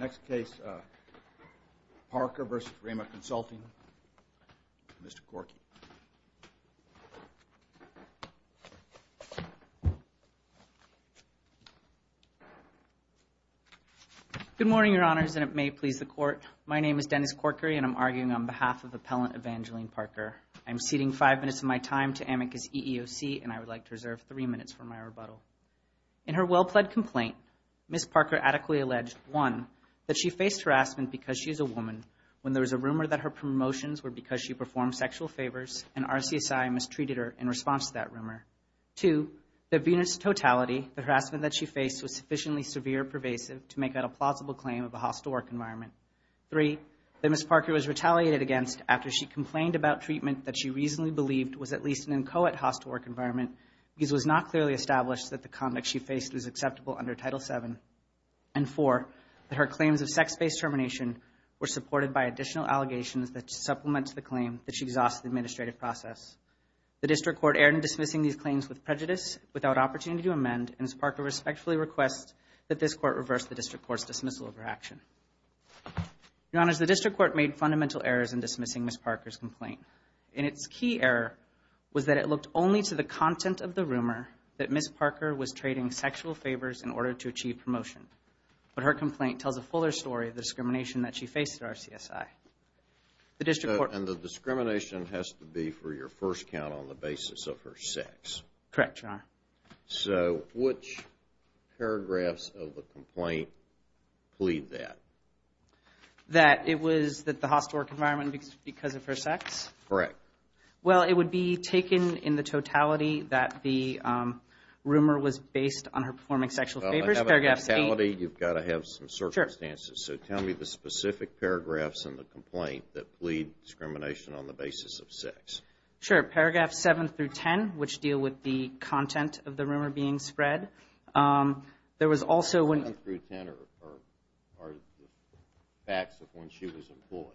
Next case, Parker v. Reema Consulting, Mr. Corky Good morning, Your Honors, and it may please the Court. My name is Dennis Corkery, and I'm arguing on behalf of Appellant Evangeline Parker. I'm ceding five minutes of my time to Amicus EEOC, and I would like to reserve three minutes for my rebuttal. In her well-pled complaint, Ms. Parker adequately alleged, one, that she faced harassment because she is a woman, when there was a rumor that her promotions were because she performed sexual favors, and RCSI mistreated her in response to that rumor. Two, that Venus' totality, the harassment that she faced, was sufficiently severe or pervasive to make that a plausible claim of a hostile work environment. Three, that Ms. Parker was retaliated against after she complained about treatment that she reasonably believed was at least an inchoate hostile work environment because it was not clearly established that the conduct she faced was acceptable under Title VII. And four, that her claims of sex-based termination were supported by additional allegations that supplement the claim that she exhausted the administrative process. The District Court erred in dismissing these claims with prejudice, without opportunity to amend, and Ms. Parker respectfully requests that this Court reverse the District Court's dismissal of her action. Your Honors, the District Court made fundamental errors in dismissing Ms. Parker's complaint, and its key error was that it looked only to the content of the rumor that Ms. Parker was trading sexual favors in order to achieve promotion. But her complaint tells a fuller story of the discrimination that she faced at RCSI. The District Court... And the discrimination has to be for your first count on the basis of her sex. Correct, Your Honor. So, which paragraphs of the complaint plead that? That it was that the hostile work environment was because of her sex? Correct. Well, it would be taken in the totality that the rumor was based on her performing sexual favors. In totality, you've got to have some circumstances. So, tell me the specific paragraphs in the complaint that plead discrimination on the basis of sex. Sure. Paragraphs 7 through 10, which deal with the content of the rumor being spread. There was also... 7 through 10 are the facts of when she was employed.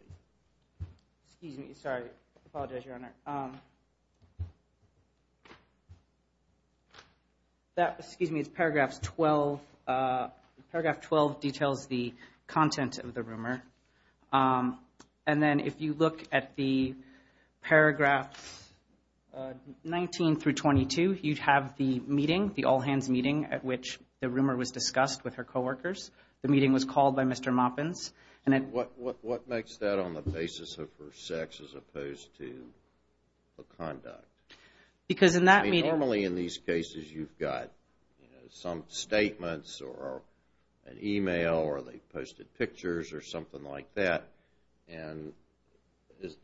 Excuse me. Sorry. I apologize, Your Honor. That, excuse me, is paragraph 12. Paragraph 12 details the content of the rumor. And then if you look at the paragraphs 19 through 22, you'd have the meeting, the all-hands meeting at which the rumor was discussed with her coworkers. The meeting was called by Mr. Moppins. What makes that on the basis of her sex as opposed to her conduct? Because in that meeting... And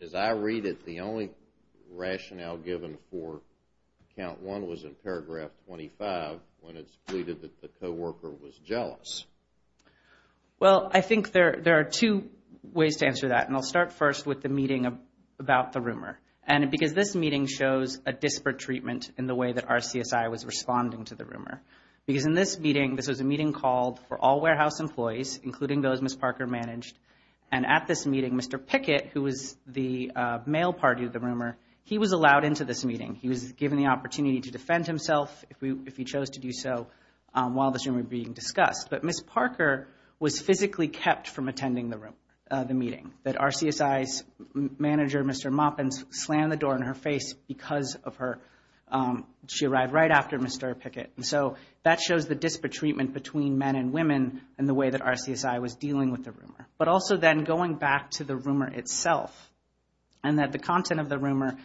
as I read it, the only rationale given for count one was in paragraph 25 when it's pleaded that the coworker was jealous. Well, I think there are two ways to answer that. And I'll start first with the meeting about the rumor. And because this meeting shows a disparate treatment in the way that RCSI was responding to the rumor. Because in this meeting, this was a meeting called for all warehouse employees, including those Ms. Parker managed. And at this meeting, Mr. Pickett, who was the male party of the rumor, he was allowed into this meeting. He was given the opportunity to defend himself if he chose to do so while this rumor was being discussed. But Ms. Parker was physically kept from attending the meeting. That RCSI's manager, Mr. Moppins, slammed the door in her face because of her. She arrived right after Mr. Pickett. And so that shows the disparate treatment between men and women in the way that RCSI was dealing with the rumor. But also then going back to the rumor itself, and that the content of the rumor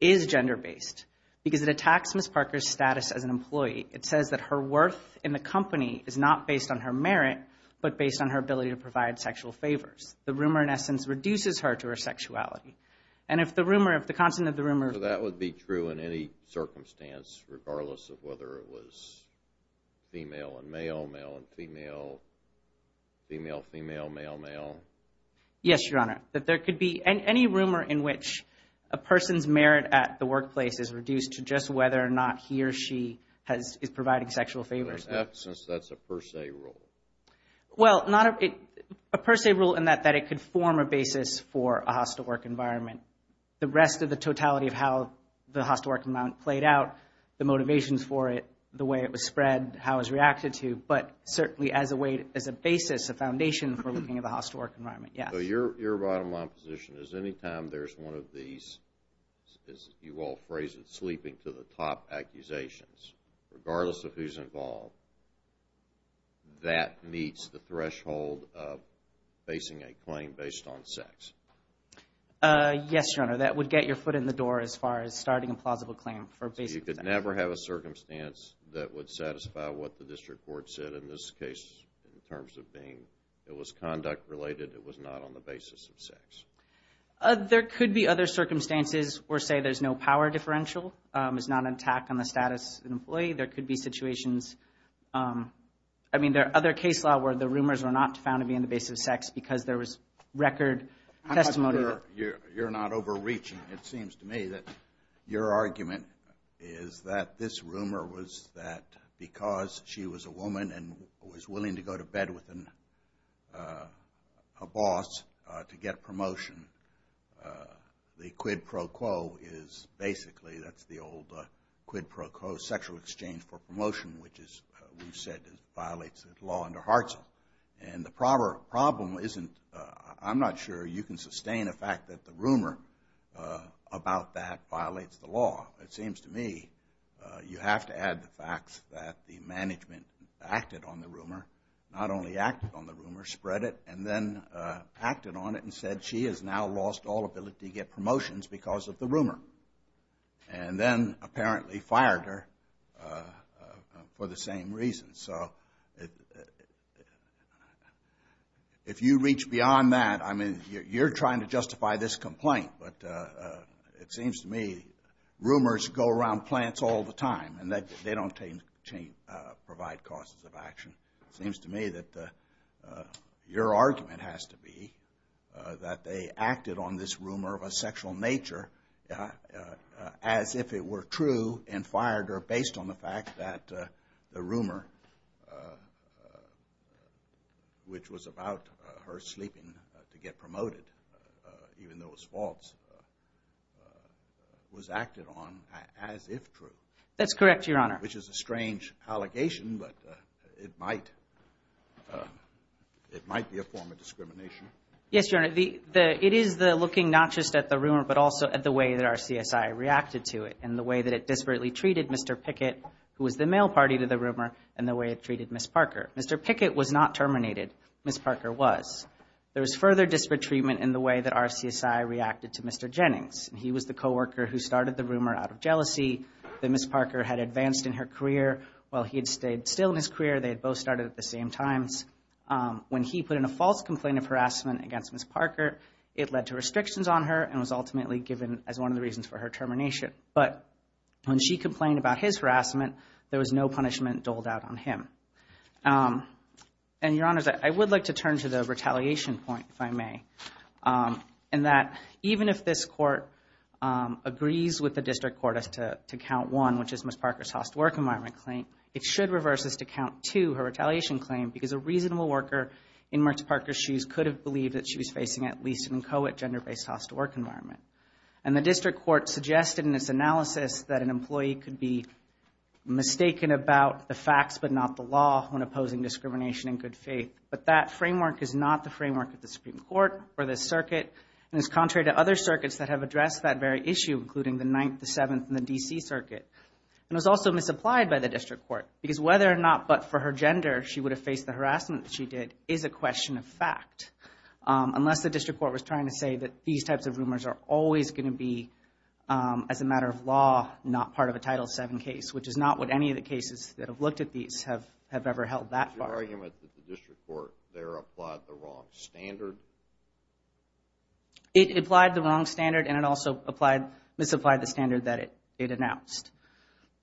is gender-based. Because it attacks Ms. Parker's status as an employee. It says that her worth in the company is not based on her merit, but based on her ability to provide sexual favors. The rumor, in essence, reduces her to her sexuality. And if the rumor, if the content of the rumor... Female and male, male and female, female, female, male, male. Yes, Your Honor. That there could be any rumor in which a person's merit at the workplace is reduced to just whether or not he or she is providing sexual favors. But that's a per se rule. Well, a per se rule in that it could form a basis for a hostile work environment. The rest of the totality of how the hostile work environment played out, the motivations for it, the way it was spread, how it was reacted to. But certainly as a way, as a basis, a foundation for looking at the hostile work environment. Yes. So your bottom line position is anytime there's one of these, as you all phrase it, sleeping to the top accusations, regardless of who's involved, that meets the threshold of facing a claim based on sex. Yes, Your Honor. That would get your foot in the door as far as starting a plausible claim. So you could never have a circumstance that would satisfy what the district court said in this case in terms of being it was conduct related, it was not on the basis of sex. There could be other circumstances where, say, there's no power differential, there's not an attack on the status of an employee. There could be situations, I mean, there are other case law where the rumors were not found to be on the basis of sex because there was record testimony. Your Honor, you're not overreaching. It seems to me that your argument is that this rumor was that because she was a woman and was willing to go to bed with a boss to get promotion, the quid pro quo is basically, that's the old quid pro quo, sexual exchange for promotion, which as we've said violates the law under Hartzell. And the problem isn't, I'm not sure you can sustain a fact that the rumor about that violates the law. It seems to me you have to add the fact that the management acted on the rumor, not only acted on the rumor, spread it, and then acted on it and said she has now lost all ability to get promotions because of the rumor and then apparently fired her for the same reason. So if you reach beyond that, I mean, you're trying to justify this complaint, but it seems to me rumors go around plants all the time and they don't provide causes of action. It seems to me that your argument has to be that they acted on this rumor of a sexual nature as if it were true and fired her based on the fact that the rumor, which was about her sleeping to get promoted, even though it was false, was acted on as if true. That's correct, Your Honor. Which is a strange allegation, but it might be a form of discrimination. Yes, Your Honor. It is looking not just at the rumor, but also at the way that RCSI reacted to it and the way that it desperately treated Mr. Pickett, who was the male party to the rumor, and the way it treated Ms. Parker. Mr. Pickett was not terminated. Ms. Parker was. There was further disparate treatment in the way that RCSI reacted to Mr. Jennings. He was the coworker who started the rumor out of jealousy that Ms. Parker had advanced in her career while he had stayed still in his career. They had both started at the same times. When he put in a false complaint of harassment against Ms. Parker, it led to restrictions on her and was ultimately given as one of the reasons for her termination. But when she complained about his harassment, there was no punishment doled out on him. Your Honor, I would like to turn to the retaliation point, if I may, in that even if this court agrees with the district court as to count one, which is Ms. Parker's house-to-work environment claim, it should reverse this to count two, her retaliation claim, because a reasonable worker in Ms. Parker's shoes could have believed that she was facing at least an inchoate gender-based house-to-work environment. And the district court suggested in its analysis that an employee could be mistaken about the facts but not the law when opposing discrimination in good faith. But that framework is not the framework of the Supreme Court or the circuit, and is contrary to other circuits that have addressed that very issue, including the Ninth, the Seventh, and the D.C. Circuit. And it was also misapplied by the district court, because whether or not but for her gender she would have faced the harassment that she did is a question of fact, unless the district court was trying to say that these types of rumors are always going to be, as a matter of law, not part of a Title VII case, which is not what any of the cases that have looked at these have ever held that far. Is your argument that the district court there applied the wrong standard? It applied the wrong standard, and it also misapplied the standard that it announced.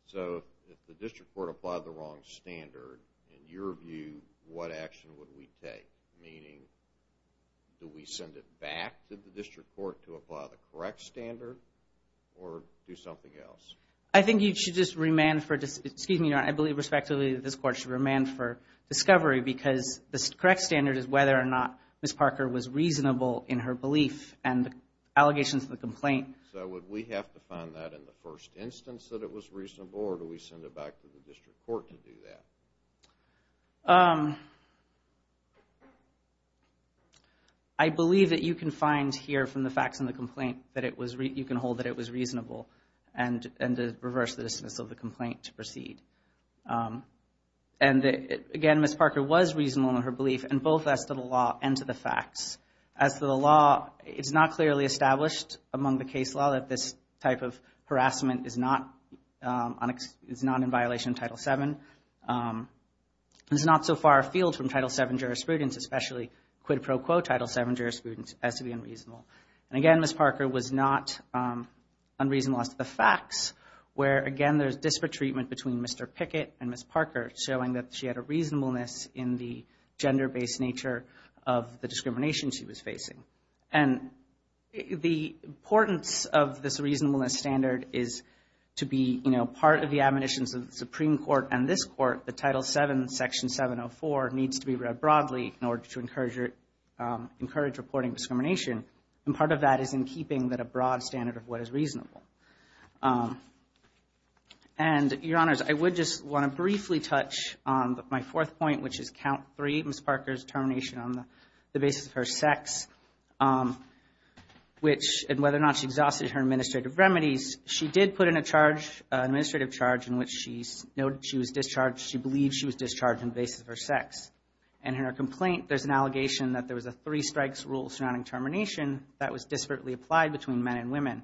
So, if the district court applied the wrong standard, in your view, what action would we take? Meaning, do we send it back to the district court to apply the correct standard, or do something else? I think you should just remand for, excuse me, I believe, respectively, that this court should remand for discovery, because the correct standard is whether or not Ms. Parker was reasonable in her belief and the allegations of the complaint. So, would we have to find that in the first instance that it was reasonable, or do we send it back to the district court to do that? I believe that you can find here from the facts in the complaint that it was, you can hold that it was reasonable, and reverse the dismissal of the complaint to proceed. And, again, Ms. Parker was reasonable in her belief, and both as to the law and to the facts. As to the law, it's not clearly established among the case law that this type of harassment is not in violation of Title VII. It's not so far afield from Title VII jurisprudence, especially quid pro quo Title VII jurisprudence, as to be unreasonable. And, again, Ms. Parker was not unreasonable as to the facts, where, again, there's disparate treatment between Mr. Pickett and Ms. Parker, showing that she had a reasonableness in the gender-based nature of the discrimination she was facing. And the importance of this reasonableness standard is to be, you know, part of the admonitions of the Supreme Court and this court, that Title VII, Section 704, needs to be read broadly in order to encourage reporting discrimination. And part of that is in keeping that a broad standard of what is reasonable. And, Your Honors, I would just want to briefly touch on my fourth point, which is Count 3, Ms. Parker's termination on the basis of her sex, and whether or not she exhausted her administrative remedies. She did put in a charge, an administrative charge, in which she noted she was discharged. And in her complaint, there's an allegation that there was a three-strikes rule surrounding termination that was disparately applied between men and women.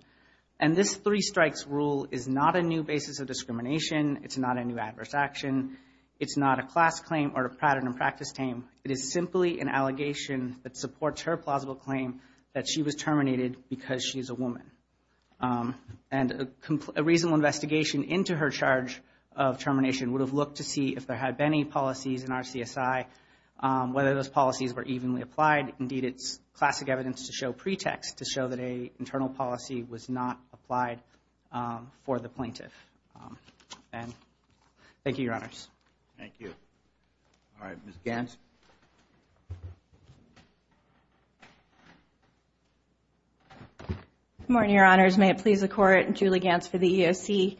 And this three-strikes rule is not a new basis of discrimination. It's not a new adverse action. It's not a class claim or a pattern in practice claim. It is simply an allegation that supports her plausible claim that she was terminated because she's a woman. And a reasonable investigation into her charge of termination would have looked to see if there had been any policies in our CSI, whether those policies were evenly applied. Indeed, it's classic evidence to show pretext, to show that an internal policy was not applied for the plaintiff. And thank you, Your Honors. Thank you. All right, Ms. Gantz. Good morning, Your Honors. May it please the Court, Julie Gantz for the EEOC.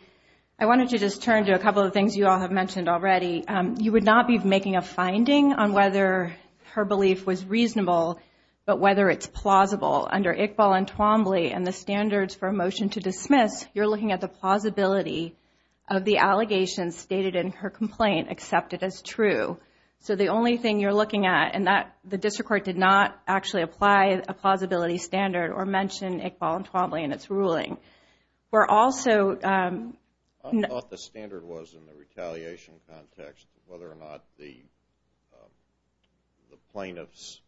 I wanted to just turn to a couple of things you all have mentioned already. You would not be making a finding on whether her belief was reasonable, but whether it's plausible. Under Iqbal and Twombly and the standards for a motion to dismiss, you're looking at the plausibility of the allegations stated in her complaint accepted as true. So the only thing you're looking at, and the district court did not actually apply a plausibility standard or mention Iqbal and Twombly in its ruling. I thought the standard was in the retaliation context whether or not the plaintiff's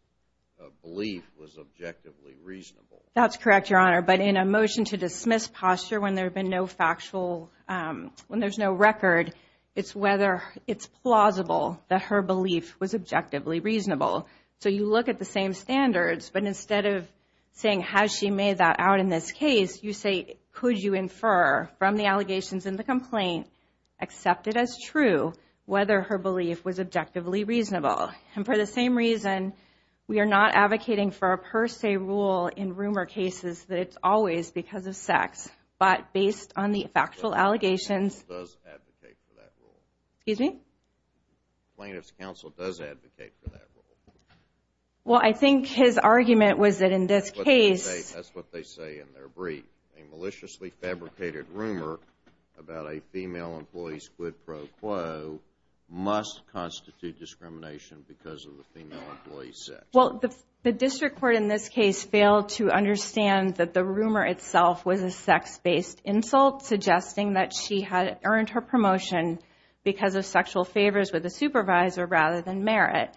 belief was objectively reasonable. That's correct, Your Honor. But in a motion to dismiss posture when there's no record, it's whether it's plausible that her belief was objectively reasonable. So you look at the same standards, but instead of saying has she made that out in this case, you say could you infer from the allegations in the complaint accepted as true whether her belief was objectively reasonable. And for the same reason, we are not advocating for a per se rule in rumor cases that it's always because of sex, but based on the factual allegations... The plaintiff's counsel does advocate for that rule. Excuse me? The plaintiff's counsel does advocate for that rule. Well, I think his argument was that in this case... That's what they say in their brief. A maliciously fabricated rumor about a female employee's quid pro quo must constitute discrimination because of the female employee's sex. Well, the district court in this case failed to understand that the rumor itself was a sex-based insult, suggesting that she had earned her promotion because of sexual favors with a supervisor rather than merit.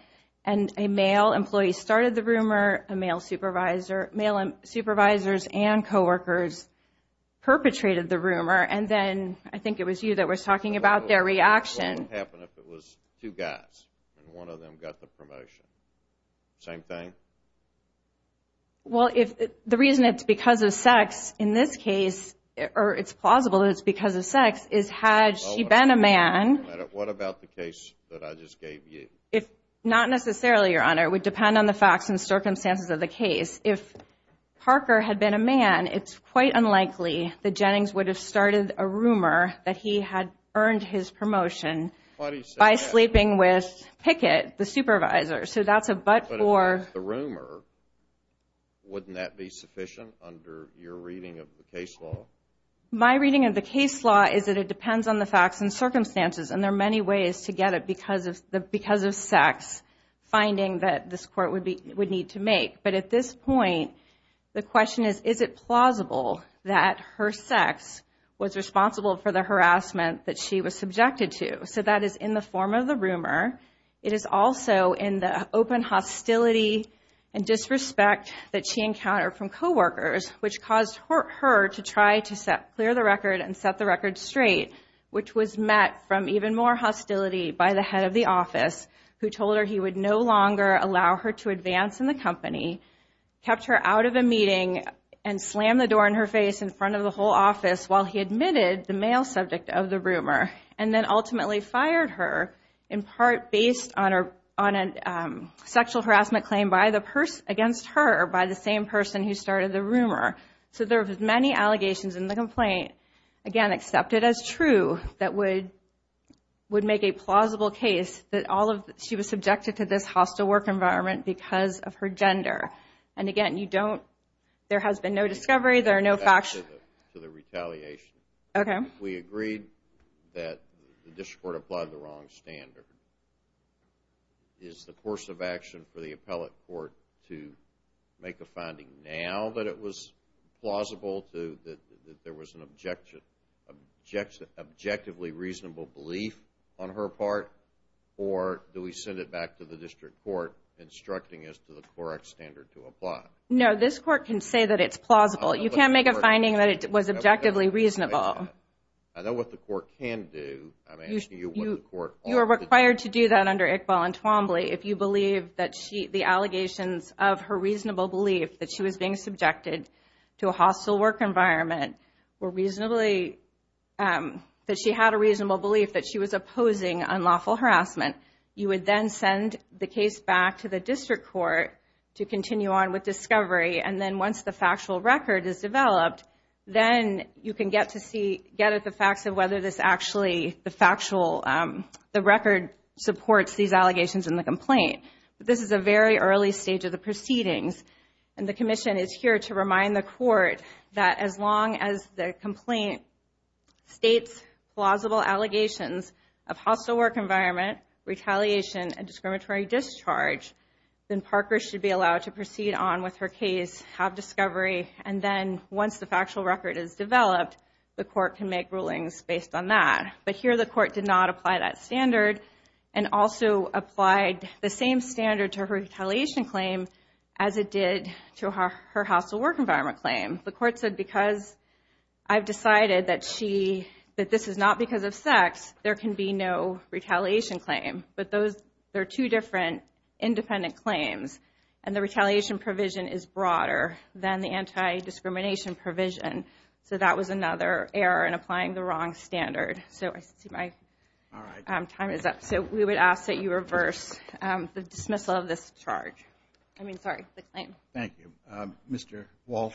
And a male employee started the rumor, male supervisors and coworkers perpetrated the rumor, and then I think it was you that was talking about their reaction. What would happen if it was two guys and one of them got the promotion? Same thing? Well, the reason it's because of sex in this case, or it's plausible that it's because of sex, is had she been a man... What about the case that I just gave you? Not necessarily, Your Honor. It would depend on the facts and circumstances of the case. If Parker had been a man, it's quite unlikely that Jennings would have started a rumor that he had earned his promotion... Why do you say that? ...by sleeping with Pickett, the supervisor. So that's a but for... But if it was the rumor, wouldn't that be sufficient under your reading of the case law? My reading of the case law is that it depends on the facts and circumstances, and there are many ways to get it because of sex, finding that this court would need to make. But at this point, the question is, is it plausible that her sex was responsible for the harassment that she was subjected to? So that is in the form of the rumor. It is also in the open hostility and disrespect that she encountered from coworkers, which caused her to try to clear the record and set the record straight, which was met from even more hostility by the head of the office, who told her he would no longer allow her to advance in the company, kept her out of a meeting, and slammed the door in her face in front of the whole office while he admitted the male subject of the rumor, and then ultimately fired her in part based on a sexual harassment claim against her or by the same person who started the rumor. So there were many allegations in the complaint, again, accepted as true that would make a plausible case that she was subjected to this hostile work environment because of her gender. And again, there has been no discovery, there are no facts. To the retaliation. Okay. We agreed that the district court applied the wrong standard. Is the course of action for the appellate court to make a finding now that it was plausible that there was an objectively reasonable belief on her part, or do we send it back to the district court instructing us to the correct standard to apply? No, this court can say that it's plausible. You can't make a finding that it was objectively reasonable. I know what the court can do. I'm asking you what the court ought to do. You are required to do that under Iqbal and Twombly if you believe that the allegations of her reasonable belief that she was being subjected to a hostile work environment were reasonably, that she had a reasonable belief that she was opposing unlawful harassment. You would then send the case back to the district court to continue on with discovery, and then once the factual record is developed, then you can get at the facts of whether the record supports these allegations in the complaint. This is a very early stage of the proceedings, and the commission is here to remind the court that as long as the complaint states plausible allegations of hostile work environment, retaliation, and discriminatory discharge, then Parker should be allowed to proceed on with her case, have discovery, and then once the factual record is developed, the court can make rulings based on that. But here the court did not apply that standard and also applied the same standard to her retaliation claim as it did to her hostile work environment claim. The court said because I've decided that this is not because of sex, there can be no retaliation claim. But those are two different independent claims, and the retaliation provision is broader than the anti-discrimination provision. So that was another error in applying the wrong standard. So I see my time is up. So we would ask that you reverse the dismissal of this charge. I mean, sorry, the claim. Thank you. Mr. Walsh.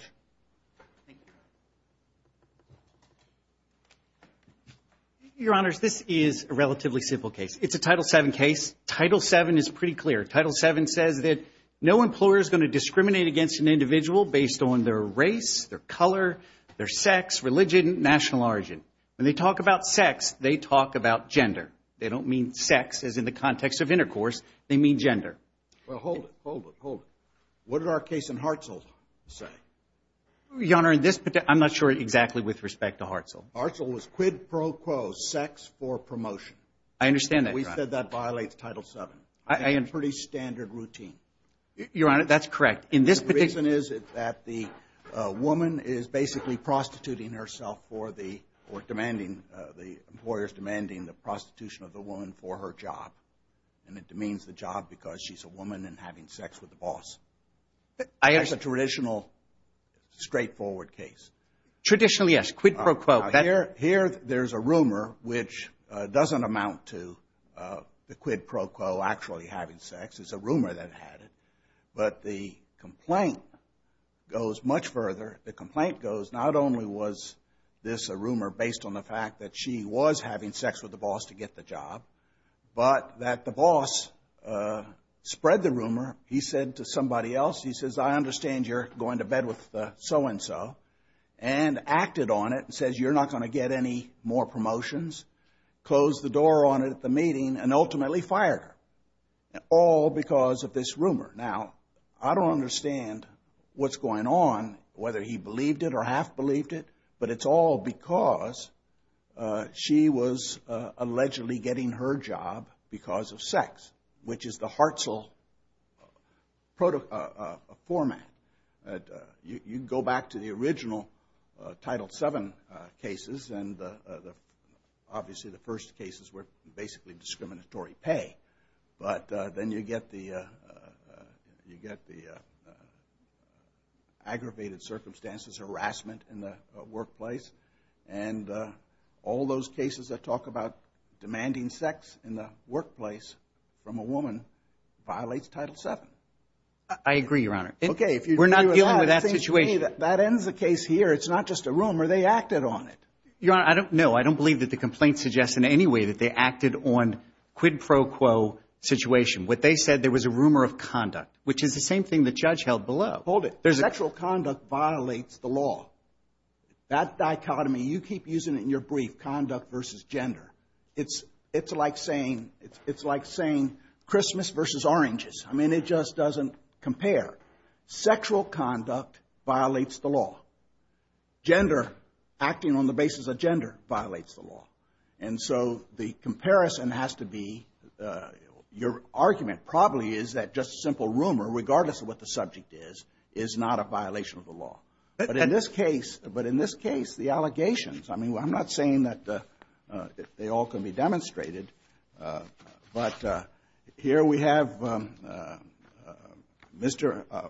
Your Honors, this is a relatively simple case. It's a Title VII case. Title VII is pretty clear. Title VII says that no employer is going to discriminate against an individual based on their race, their color, their sex, religion, national origin. When they talk about sex, they talk about gender. They don't mean sex as in the context of intercourse. They mean gender. Well, hold it, hold it, hold it. What did our case in Hartzell say? Your Honor, I'm not sure exactly with respect to Hartzell. Hartzell was quid pro quo, sex for promotion. I understand that, Your Honor. We said that violates Title VII. It's a pretty standard routine. Your Honor, that's correct. The reason is that the woman is basically prostituting herself for the or demanding, the employer is demanding the prostitution of the woman for her job. And it demeans the job because she's a woman and having sex with the boss. That's a traditional, straightforward case. Traditional, yes. Quid pro quo. Now, here there's a rumor which doesn't amount to the quid pro quo, actually having sex. It's a rumor that had it. But the complaint goes much further. The complaint goes not only was this a rumor based on the fact that she was having sex with the boss to get the job, but that the boss spread the rumor. He said to somebody else, he says, I understand you're going to bed with so-and-so, and acted on it and says, you're not going to get any more promotions, closed the door on it at the meeting, and ultimately fired her, all because of this rumor. Now, I don't understand what's going on, whether he believed it or half believed it, but it's all because she was allegedly getting her job because of sex, which is the Hartzell format. You can go back to the original Title VII cases, and obviously the first cases were basically discriminatory pay. But then you get the aggravated circumstances, harassment in the workplace, and all those cases that talk about demanding sex in the workplace from a woman violates Title VII. I agree, Your Honor. Okay. We're not dealing with that situation. That ends the case here. It's not just a rumor. They acted on it. Your Honor, I don't know. I don't believe that the complaint suggests in any way that they acted on quid pro quo situation. What they said, there was a rumor of conduct, which is the same thing the judge held below. Hold it. Sexual conduct violates the law. That dichotomy, you keep using it in your brief, conduct versus gender. It's like saying Christmas versus oranges. I mean, it just doesn't compare. Sexual conduct violates the law. Gender, acting on the basis of gender, violates the law. And so the comparison has to be, your argument probably is that just a simple rumor, regardless of what the subject is, is not a violation of the law. But in this case, the allegations, I mean, I'm not saying that they all can be demonstrated, but here we have Mr.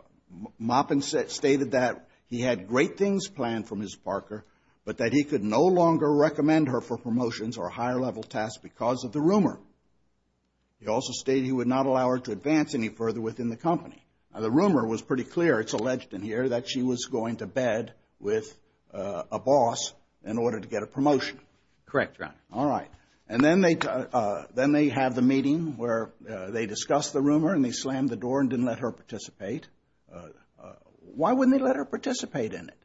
Maupin stated that he had great things planned for Ms. Parker, but that he could no longer recommend her for promotions or higher level tasks because of the rumor. He also stated he would not allow her to advance any further within the company. Now, the rumor was pretty clear, it's alleged in here, that she was going to bed with a boss in order to get a promotion. Correct, Your Honor. All right. And then they have the meeting where they discuss the rumor and they slam the door and didn't let her participate. Why wouldn't they let her participate in it?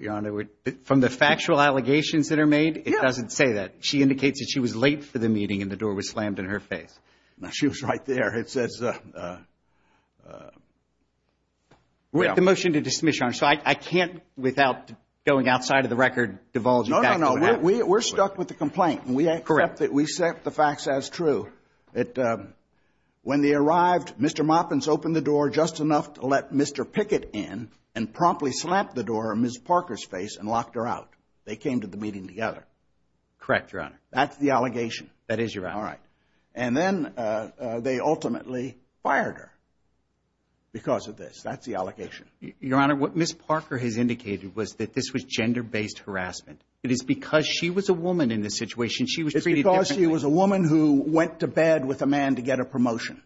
Your Honor, from the factual allegations that are made, it doesn't say that. She indicates that she was late for the meeting and the door was slammed in her face. Now, she was right there. It says. With the motion to dismiss, Your Honor, so I can't, without going outside of the record, divulge it back to you. No, no, no. We're stuck with the complaint. Correct. And we accept that we set the facts as true. When they arrived, Mr. Maupin's opened the door just enough to let Mr. Pickett in and promptly slammed the door in Ms. Parker's face and locked her out. They came to the meeting together. Correct, Your Honor. That's the allegation. That is, Your Honor. All right. And then they ultimately fired her because of this. That's the allegation. Your Honor, what Ms. Parker has indicated was that this was gender-based harassment. It is because she was a woman in this situation. She was treated differently. It's because she was a woman who went to bed with a man to get a promotion.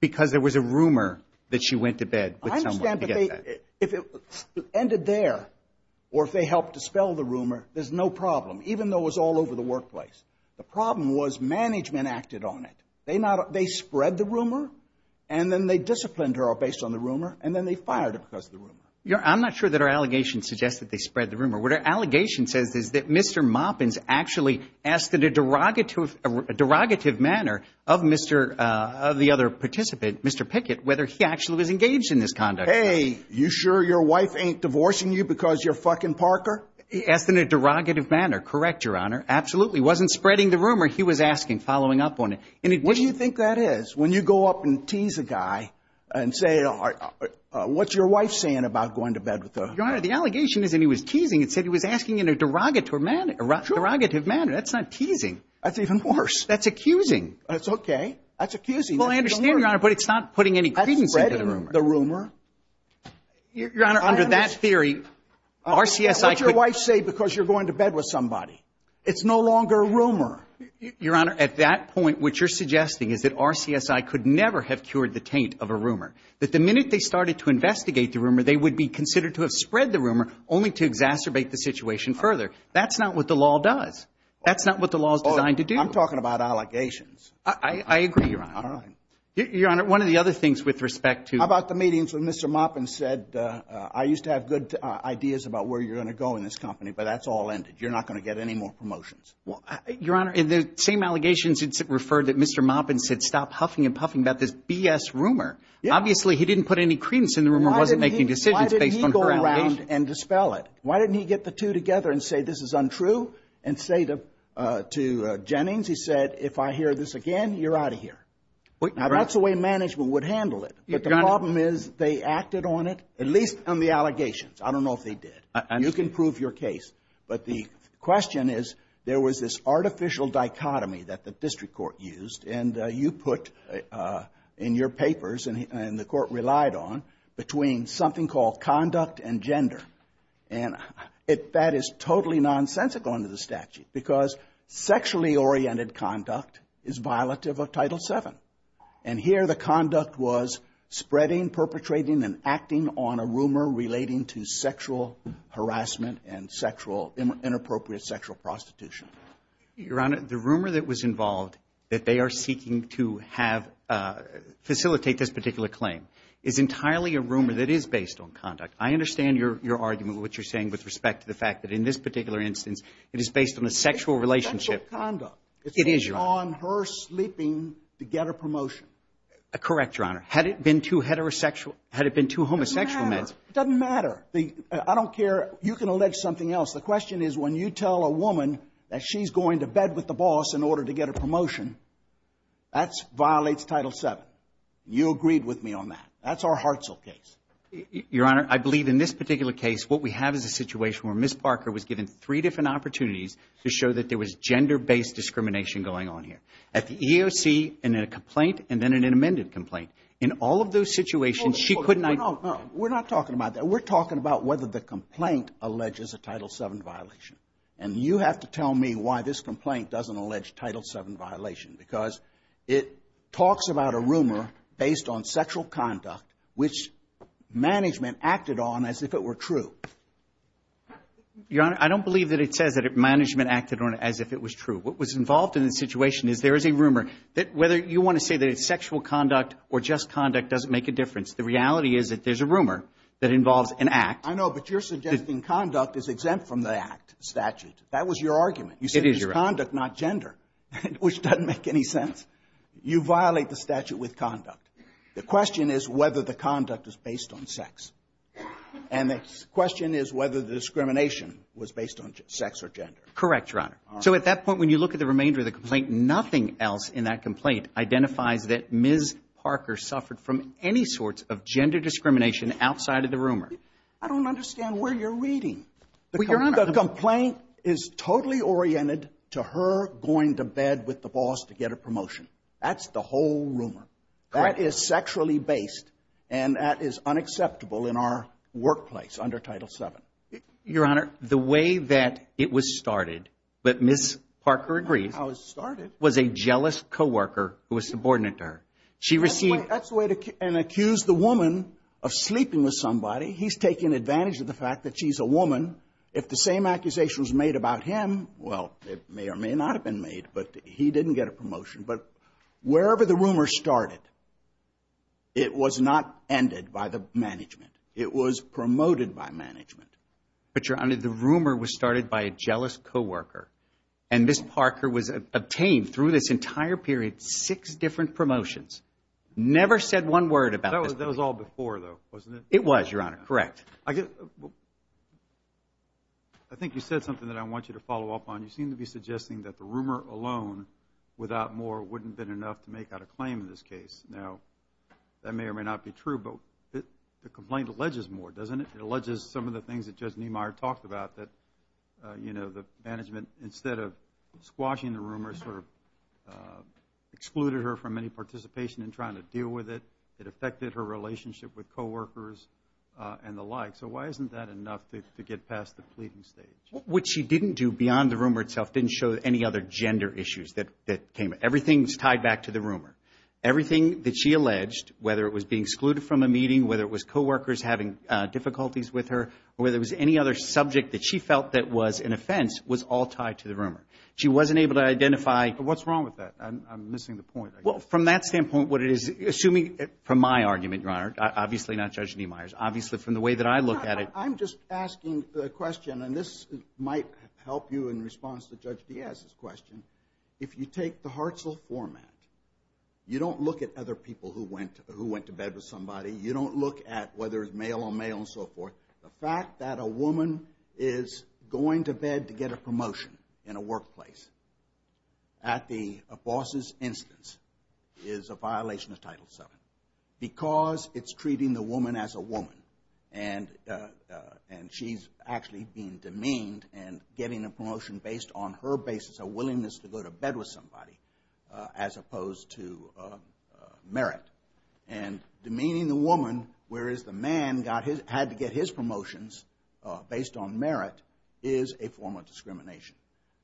Because there was a rumor that she went to bed with someone to get a promotion. I understand, but if it ended there or if they helped dispel the rumor, there's no problem, even though it was all over the workplace. The problem was management acted on it. They spread the rumor and then they disciplined her based on the rumor and then they fired her because of the rumor. I'm not sure that her allegation suggests that they spread the rumor. What her allegation says is that Mr. Maupin's actually asked in a derogative manner of the other participant, Mr. Pickett, whether he actually was engaged in this conduct. Hey, you sure your wife ain't divorcing you because you're fucking Parker? He asked in a derogative manner. Correct, Your Honor. Absolutely. He wasn't spreading the rumor. He was asking, following up on it. What do you think that is? When you go up and tease a guy and say, what's your wife saying about going to bed with her? Your Honor, the allegation is that he was teasing. It said he was asking in a derogative manner. That's not teasing. That's even worse. That's accusing. That's okay. That's accusing. Well, I understand, Your Honor, but it's not putting any credence into the rumor. That's spreading the rumor. Your Honor, under that theory, RCSI could My wife say because you're going to bed with somebody. It's no longer a rumor. Your Honor, at that point, what you're suggesting is that RCSI could never have cured the taint of a rumor. That the minute they started to investigate the rumor, they would be considered to have spread the rumor, only to exacerbate the situation further. That's not what the law does. That's not what the law is designed to do. I'm talking about allegations. I agree, Your Honor. All right. Your Honor, one of the other things with respect to How about the meetings when Mr. Maupin said, I used to have good ideas about where you're going to go in this company, but that's all ended. You're not going to get any more promotions. Your Honor, in the same allegations, it's referred that Mr. Maupin said stop huffing and puffing about this B.S. rumor. Obviously, he didn't put any credence in the rumor and wasn't making decisions based on her allegations. Why didn't he go around and dispel it? Why didn't he get the two together and say this is untrue and say to Jennings, he said, if I hear this again, you're out of here. That's the way management would handle it. But the problem is they acted on it, at least on the allegations. I don't know if they did. You can prove your case. But the question is there was this artificial dichotomy that the district court used, and you put in your papers, and the court relied on, between something called conduct and gender. And that is totally nonsensical under the statute because sexually oriented conduct is violative of Title VII. And here the conduct was spreading, perpetrating, and acting on a rumor relating to sexual harassment and sexual inappropriate sexual prostitution. Your Honor, the rumor that was involved, that they are seeking to have facilitate this particular claim, is entirely a rumor that is based on conduct. I understand your argument, what you're saying with respect to the fact that in this particular instance, it is based on a sexual relationship. It's sexual conduct. It is, Your Honor. Based on her sleeping to get a promotion. Correct, Your Honor. Had it been two heterosexual, had it been two homosexual men. It doesn't matter. It doesn't matter. I don't care. You can allege something else. The question is when you tell a woman that she's going to bed with the boss in order to get a promotion, that violates Title VII. You agreed with me on that. That's our Hartzell case. Your Honor, I believe in this particular case, what we have is a situation where Ms. Parker was given three different opportunities to show that there was gender-based discrimination going on here. At the EOC, in a complaint, and then in an amended complaint. In all of those situations, she could not. We're not talking about that. We're talking about whether the complaint alleges a Title VII violation. And you have to tell me why this complaint doesn't allege Title VII violation. Because it talks about a rumor based on sexual conduct, which management acted on as if it were true. Your Honor, I don't believe that it says that management acted on it as if it was true. What was involved in the situation is there is a rumor that whether you want to say that it's sexual conduct or just conduct doesn't make a difference. The reality is that there's a rumor that involves an act. I know, but you're suggesting conduct is exempt from the act statute. That was your argument. You said it's conduct, not gender, which doesn't make any sense. You violate the statute with conduct. The question is whether the conduct is based on sex. And the question is whether the discrimination was based on sex or gender. Correct, Your Honor. So at that point, when you look at the remainder of the complaint, nothing else in that complaint identifies that Ms. Parker suffered from any sorts of gender discrimination outside of the rumor. I don't understand where you're reading. The complaint is totally oriented to her going to bed with the boss to get a promotion. That's the whole rumor. That is sexually based, and that is unacceptable in our workplace under Title VII. Your Honor, the way that it was started, but Ms. Parker agrees, was a jealous coworker who was subordinate to her. That's the way to accuse the woman of sleeping with somebody. He's taking advantage of the fact that she's a woman. If the same accusation was made about him, well, it may or may not have been made, but he didn't get a promotion. But wherever the rumor started, it was not ended by the management. It was promoted by management. But, Your Honor, the rumor was started by a jealous coworker, and Ms. Parker was obtained through this entire period six different promotions. Never said one word about this. That was all before, though, wasn't it? It was, Your Honor, correct. I think you said something that I want you to follow up on. You seem to be suggesting that the rumor alone, without more, wouldn't have been enough to make out a claim in this case. Now, that may or may not be true, but the complaint alleges more, doesn't it? It alleges some of the things that Judge Niemeyer talked about, that, you know, the management, instead of squashing the rumor, sort of excluded her from any participation in trying to deal with it. It affected her relationship with coworkers and the like. So why isn't that enough to get past the pleading stage? What she didn't do, beyond the rumor itself, didn't show any other gender issues that came. Everything's tied back to the rumor. Everything that she alleged, whether it was being excluded from a meeting, whether it was coworkers having difficulties with her, or whether it was any other subject that she felt that was an offense, was all tied to the rumor. She wasn't able to identify. What's wrong with that? I'm missing the point. Well, from that standpoint, what it is, assuming from my argument, Your Honor, obviously not Judge Niemeyer's, obviously from the way that I look at it. I'm just asking the question, and this might help you in response to Judge Diaz's question. If you take the Hartzell format, you don't look at other people who went to bed with somebody. You don't look at whether it's male on male and so forth. The fact that a woman is going to bed to get a promotion in a workplace, at the boss's instance, is a violation of Title VII because it's treating the woman as a woman, and she's actually being demeaned and getting a promotion based on her basis, her willingness to go to bed with somebody, as opposed to merit. And demeaning the woman, whereas the man had to get his promotions based on merit, is a form of discrimination.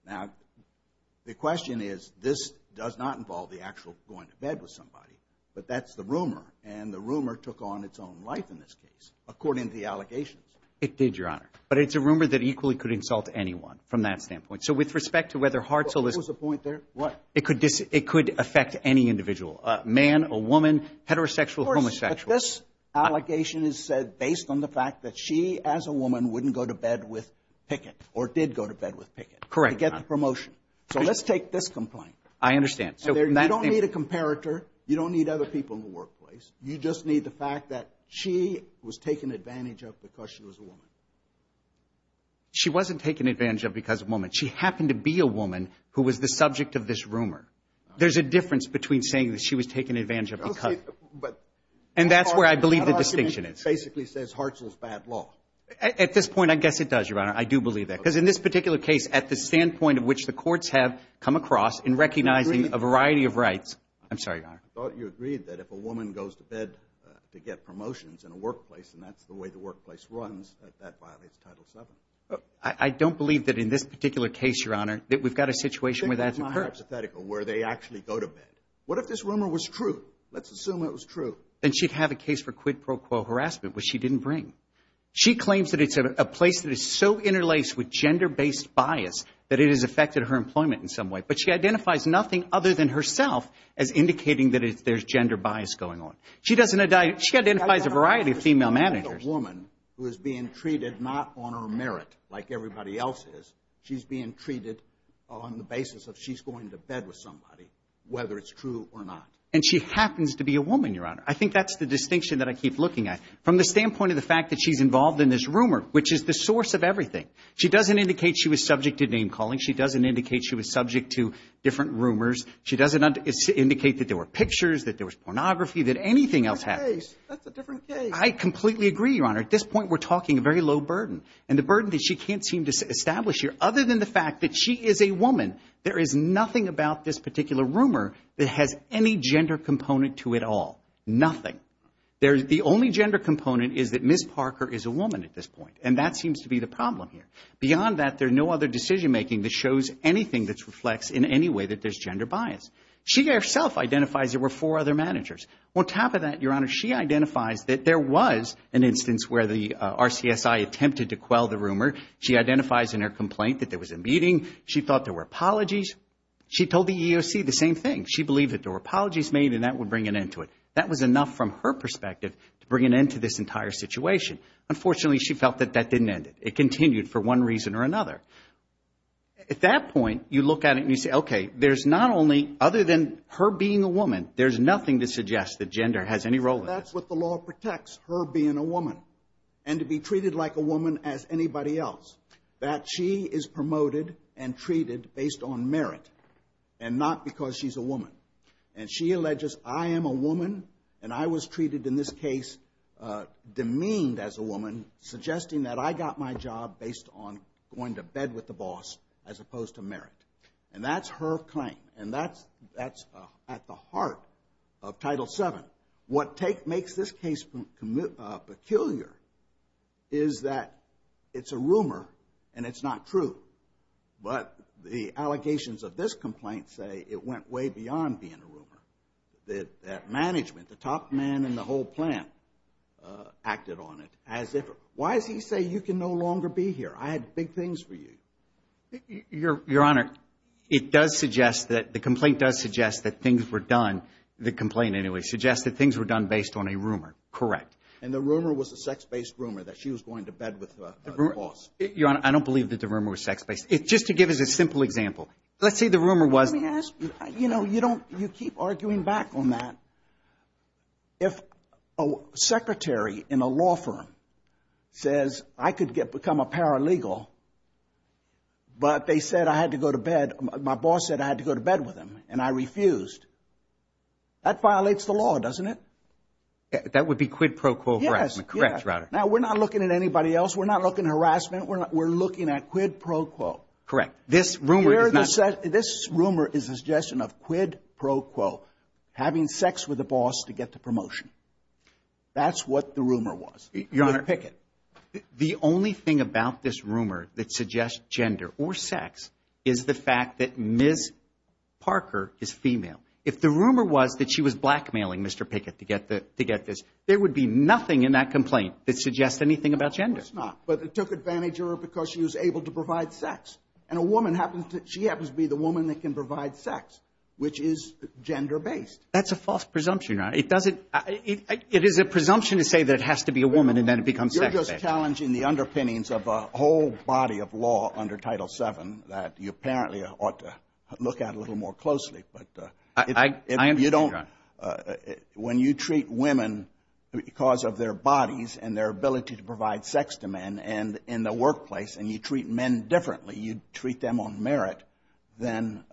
Now, the question is, this does not involve the actual going to bed with somebody, but that's the rumor, and the rumor took on its own life in this case, according to the allegations. It did, Your Honor, but it's a rumor that equally could insult anyone from that standpoint. So with respect to whether Hartzell is— What was the point there? What? It could affect any individual, a man, a woman, heterosexual, homosexual. Of course, but this allegation is said based on the fact that she, as a woman, wouldn't go to bed with Pickett, or did go to bed with Pickett to get the promotion. Correct, Your Honor. So let's take this complaint. I understand. You don't need a comparator. You don't need other people in the workplace. You just need the fact that she was taken advantage of because she was a woman. She wasn't taken advantage of because a woman. She happened to be a woman who was the subject of this rumor. There's a difference between saying that she was taken advantage of because— But— And that's where I believe the distinction is. The argument basically says Hartzell's bad law. At this point, I guess it does, Your Honor. I do believe that, because in this particular case, at the standpoint of which the courts have come across in recognizing a variety of rights— I'm sorry, Your Honor. I thought you agreed that if a woman goes to bed to get promotions in a workplace, and that's the way the workplace runs, that that violates Title VII. I don't believe that in this particular case, Your Honor, that we've got a situation where that's not her. I think that's hypothetical, where they actually go to bed. What if this rumor was true? Let's assume it was true. Then she'd have a case for quid pro quo harassment, which she didn't bring. She claims that it's a place that is so interlaced with gender-based bias that it has affected her employment in some way. But she identifies nothing other than herself as indicating that there's gender bias going on. She doesn't identify—she identifies a variety of female managers. She's not a woman who is being treated not on her merit like everybody else is. She's being treated on the basis of she's going to bed with somebody, whether it's true or not. And she happens to be a woman, Your Honor. I think that's the distinction that I keep looking at. From the standpoint of the fact that she's involved in this rumor, which is the source of everything, she doesn't indicate she was subject to name-calling. She doesn't indicate she was subject to different rumors. She doesn't indicate that there were pictures, that there was pornography, that anything else happened. That's a different case. I completely agree, Your Honor. At this point, we're talking a very low burden. And the burden that she can't seem to establish here, other than the fact that she is a woman, there is nothing about this particular rumor that has any gender component to it all. Nothing. The only gender component is that Ms. Parker is a woman at this point. And that seems to be the problem here. Beyond that, there's no other decision-making that shows anything that reflects in any way that there's gender bias. She herself identifies there were four other managers. On top of that, Your Honor, she identifies that there was an instance where the RCSI attempted to quell the rumor. She identifies in her complaint that there was a meeting. She thought there were apologies. She told the EEOC the same thing. She believed that there were apologies made and that would bring an end to it. That was enough from her perspective to bring an end to this entire situation. Unfortunately, she felt that that didn't end it. It continued for one reason or another. At that point, you look at it and you say, okay, there's not only, other than her being a woman, there's nothing to suggest that gender has any role in this. That's what the law protects, her being a woman and to be treated like a woman as anybody else, that she is promoted and treated based on merit and not because she's a woman. She alleges, I am a woman and I was treated in this case demeaned as a woman, suggesting that I got my job based on going to bed with the boss as opposed to merit. That's her claim. That's at the heart of Title VII. What makes this case peculiar is that it's a rumor and it's not true. But the allegations of this complaint say it went way beyond being a rumor. That management, the top man in the whole plant, acted on it as if, why does he say you can no longer be here? I had big things for you. Your Honor, it does suggest that, the complaint does suggest that things were done, the complaint anyway, suggests that things were done based on a rumor. Correct. And the rumor was a sex-based rumor that she was going to bed with the boss. Your Honor, I don't believe that the rumor was sex-based. Just to give us a simple example. Let's say the rumor was. Let me ask you. You know, you keep arguing back on that. If a secretary in a law firm says, I could become a paralegal, but they said I had to go to bed, my boss said I had to go to bed with him, and I refused, that violates the law, doesn't it? Yes. Correct, Your Honor. Now, we're not looking at anybody else. We're not looking at harassment. We're looking at quid pro quo. Correct. This rumor does not. This rumor is a suggestion of quid pro quo, having sex with the boss to get the promotion. That's what the rumor was. Your Honor. Mr. Pickett. The only thing about this rumor that suggests gender or sex is the fact that Ms. Parker is female. If the rumor was that she was blackmailing Mr. Pickett to get this, there would be nothing in that complaint that suggests anything about gender. Of course not. But it took advantage of her because she was able to provide sex. And a woman happens to be the woman that can provide sex, which is gender-based. That's a false presumption, Your Honor. It is a presumption to say that it has to be a woman and then it becomes sex-based. You're just challenging the underpinnings of a whole body of law under Title VII that you apparently ought to look at a little more closely. I understand, Your Honor. When you treat women because of their bodies and their ability to provide sex to men and in the workplace and you treat men differently, you treat them on merit, then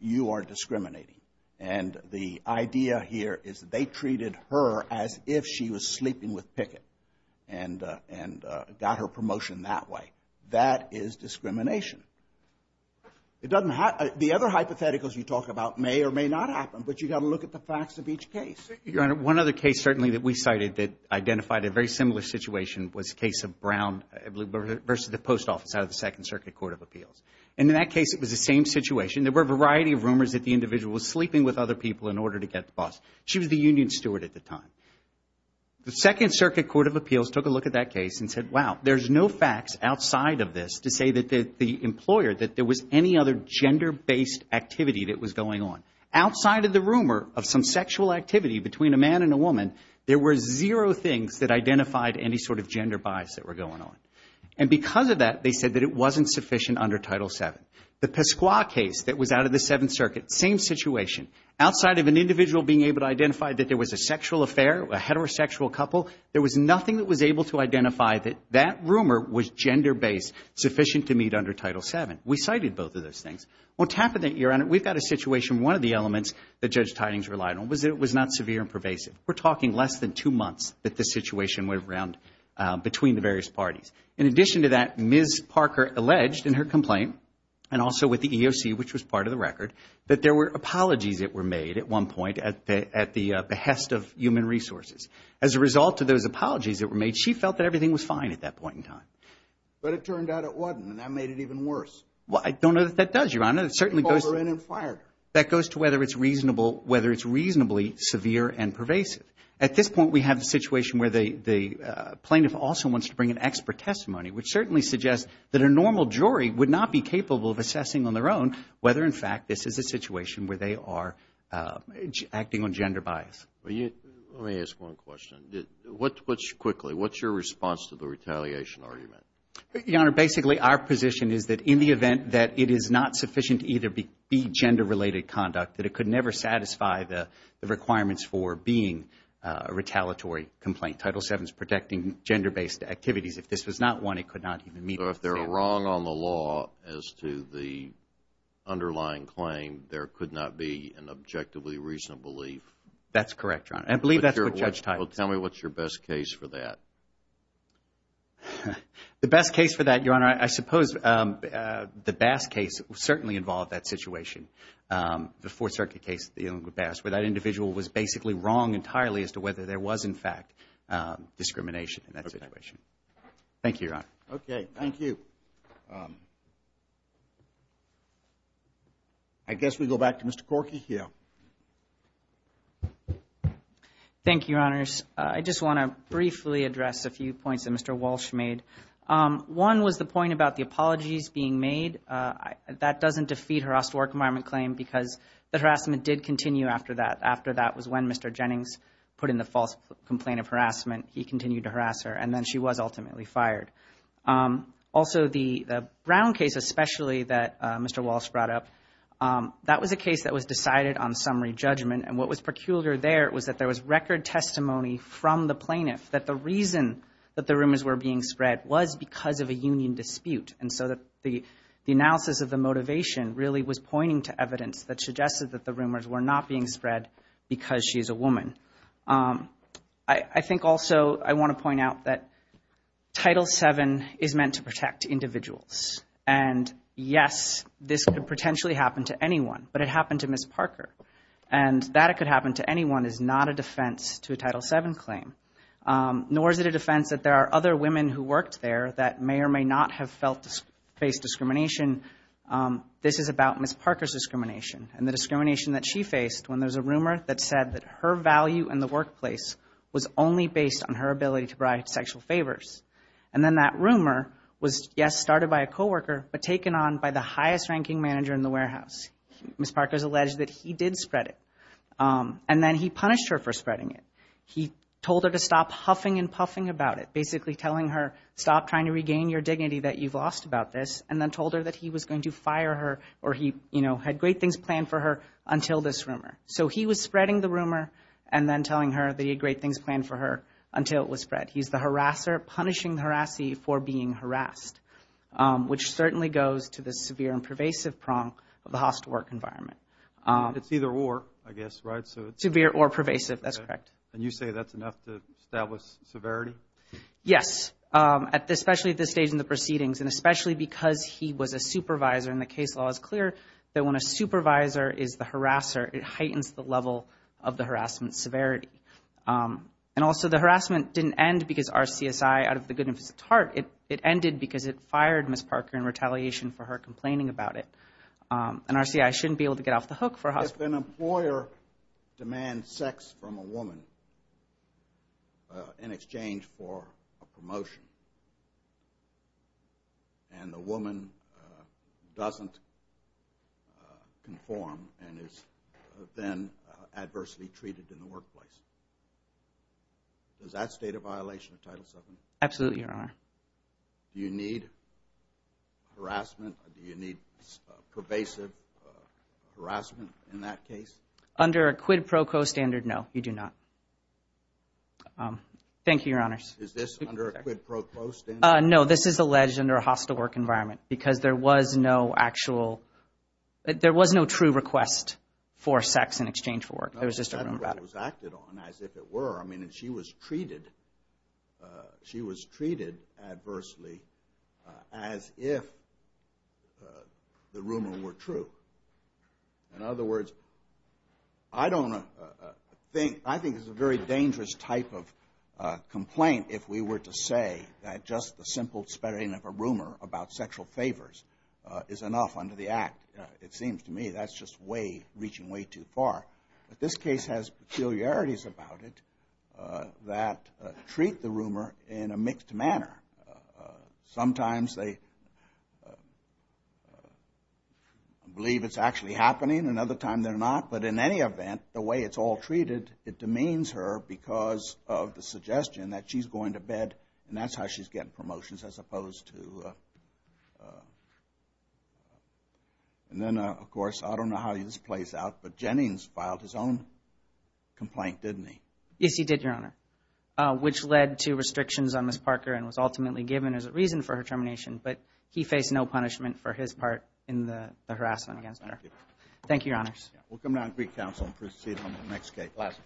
you are discriminating. And the idea here is that they treated her as if she was sleeping with Pickett and got her promotion that way. That is discrimination. The other hypotheticals you talk about may or may not happen, but you've got to look at the facts of each case. Your Honor, one other case certainly that we cited that identified a very similar situation was the case of Brown versus the post office out of the Second Circuit Court of Appeals. And in that case, it was the same situation. There were a variety of rumors that the individual was sleeping with other people in order to get the boss. She was the union steward at the time. The Second Circuit Court of Appeals took a look at that case and said, wow, there's no facts outside of this to say that the employer, that there was any other gender-based activity that was going on. Outside of the rumor of some sexual activity between a man and a woman, there were zero things that identified any sort of gender bias that were going on. And because of that, they said that it wasn't sufficient under Title VII. The Pasqua case that was out of the Seventh Circuit, same situation. Outside of an individual being able to identify that there was a sexual affair, a heterosexual couple, there was nothing that was able to identify that that rumor was gender-based sufficient to meet under Title VII. We cited both of those things. On top of that, Your Honor, we've got a situation. One of the elements that Judge Tidings relied on was that it was not severe and pervasive. We're talking less than two months that the situation went around between the various parties. In addition to that, Ms. Parker alleged in her complaint and also with the EOC, which was part of the record, that there were apologies that were made at one point at the behest of human resources. As a result of those apologies that were made, she felt that everything was fine at that point in time. But it turned out it wasn't, and that made it even worse. Well, I don't know that that does, Your Honor. They called her in and fired her. That goes to whether it's reasonably severe and pervasive. At this point, we have the situation where the plaintiff also wants to bring an expert testimony, which certainly suggests that a normal jury would not be capable of assessing on their own whether, in fact, this is a situation where they are acting on gender bias. Let me ask one question. Quickly, what's your response to the retaliation argument? Your Honor, basically our position is that in the event that it is not sufficient to either be gender-related conduct, that it could never satisfy the requirements for being a retaliatory complaint. Title VII is protecting gender-based activities. If this was not one, it could not even meet the standard. So if they're wrong on the law as to the underlying claim, there could not be an objectively reasonable belief? That's correct, Your Honor. I believe that's what Judge Title said. Well, tell me what's your best case for that. The best case for that, Your Honor, I suppose the Bass case certainly involved that situation, the Fourth Circuit case dealing with Bass, where that individual was basically wrong entirely as to whether there was, in fact, discrimination in that situation. Thank you, Your Honor. Okay, thank you. I guess we go back to Mr. Corky. Yeah. Thank you, Your Honors. I just want to briefly address a few points that Mr. Walsh made. One was the point about the apologies being made. That doesn't defeat her hostile work environment claim because the harassment did continue after that. After that was when Mr. Jennings put in the false complaint of harassment. He continued to harass her, and then she was ultimately fired. Also, the Brown case especially that Mr. Walsh brought up, that was a case that was decided on summary judgment. And what was peculiar there was that there was record testimony from the plaintiff that the reason that the rumors were being spread was because of a union dispute. And so the analysis of the motivation really was pointing to evidence that suggested that the rumors were not being spread because she is a woman. I think also I want to point out that Title VII is meant to protect individuals. And, yes, this could potentially happen to anyone, but it happened to Ms. Parker. And that it could happen to anyone is not a defense to a Title VII claim, nor is it a defense that there are other women who worked there that may or may not have faced discrimination. This is about Ms. Parker's discrimination and the discrimination that she faced when there was a rumor that said that her value in the workplace was only based on her ability to provide sexual favors. And then that rumor was, yes, started by a coworker, but taken on by the highest-ranking manager in the warehouse. Ms. Parker's alleged that he did spread it, and then he punished her for spreading it. He told her to stop huffing and puffing about it, basically telling her, stop trying to regain your dignity that you've lost about this, and then told her that he was going to fire her or he, you know, had great things planned for her until this rumor. So he was spreading the rumor and then telling her that he had great things planned for her until it was spread. He's the harasser, punishing the harasser for being harassed, which certainly goes to the severe and pervasive prong of the hostile work environment. It's either or, I guess, right? Severe or pervasive, that's correct. And you say that's enough to establish severity? Yes, especially at this stage in the proceedings, and especially because he was a supervisor. And the case law is clear that when a supervisor is the harasser, it heightens the level of the harassment severity. And also, the harassment didn't end because RCSI, out of the goodness of its heart, it ended because it fired Ms. Parker in retaliation for her complaining about it. And RCSI shouldn't be able to get off the hook for hostile work. It doesn't conform and is then adversely treated in the workplace. Does that state a violation of Title VII? Absolutely, Your Honor. Do you need harassment? Do you need pervasive harassment in that case? Under a quid pro quo standard, no, you do not. Thank you, Your Honors. Is this under a quid pro quo standard? No, this is alleged under a hostile work environment because there was no actual, there was no true request for sex in exchange for work. It was just a rumor about it. It was acted on as if it were. I mean, she was treated, she was treated adversely as if the rumor were true. In other words, I don't think, I think it's a very dangerous type of complaint if we were to say that just the simple spreading of a rumor about sexual favors is enough under the Act. It seems to me that's just way, reaching way too far. But this case has peculiarities about it that treat the rumor in a mixed manner. Sometimes they believe it's actually happening. Another time they're not. But in any event, the way it's all treated, it demeans her because of the suggestion that she's going to bed and that's how she's getting promotions as opposed to. And then, of course, I don't know how this plays out, but Jennings filed his own complaint, didn't he? Yes, he did, Your Honor, which led to restrictions on Ms. Parker and was ultimately given as a reason for her termination. But he faced no punishment for his part in the harassment against her. Thank you. Thank you, Your Honors. We'll come down to Greek Council and proceed on the next case. Last case.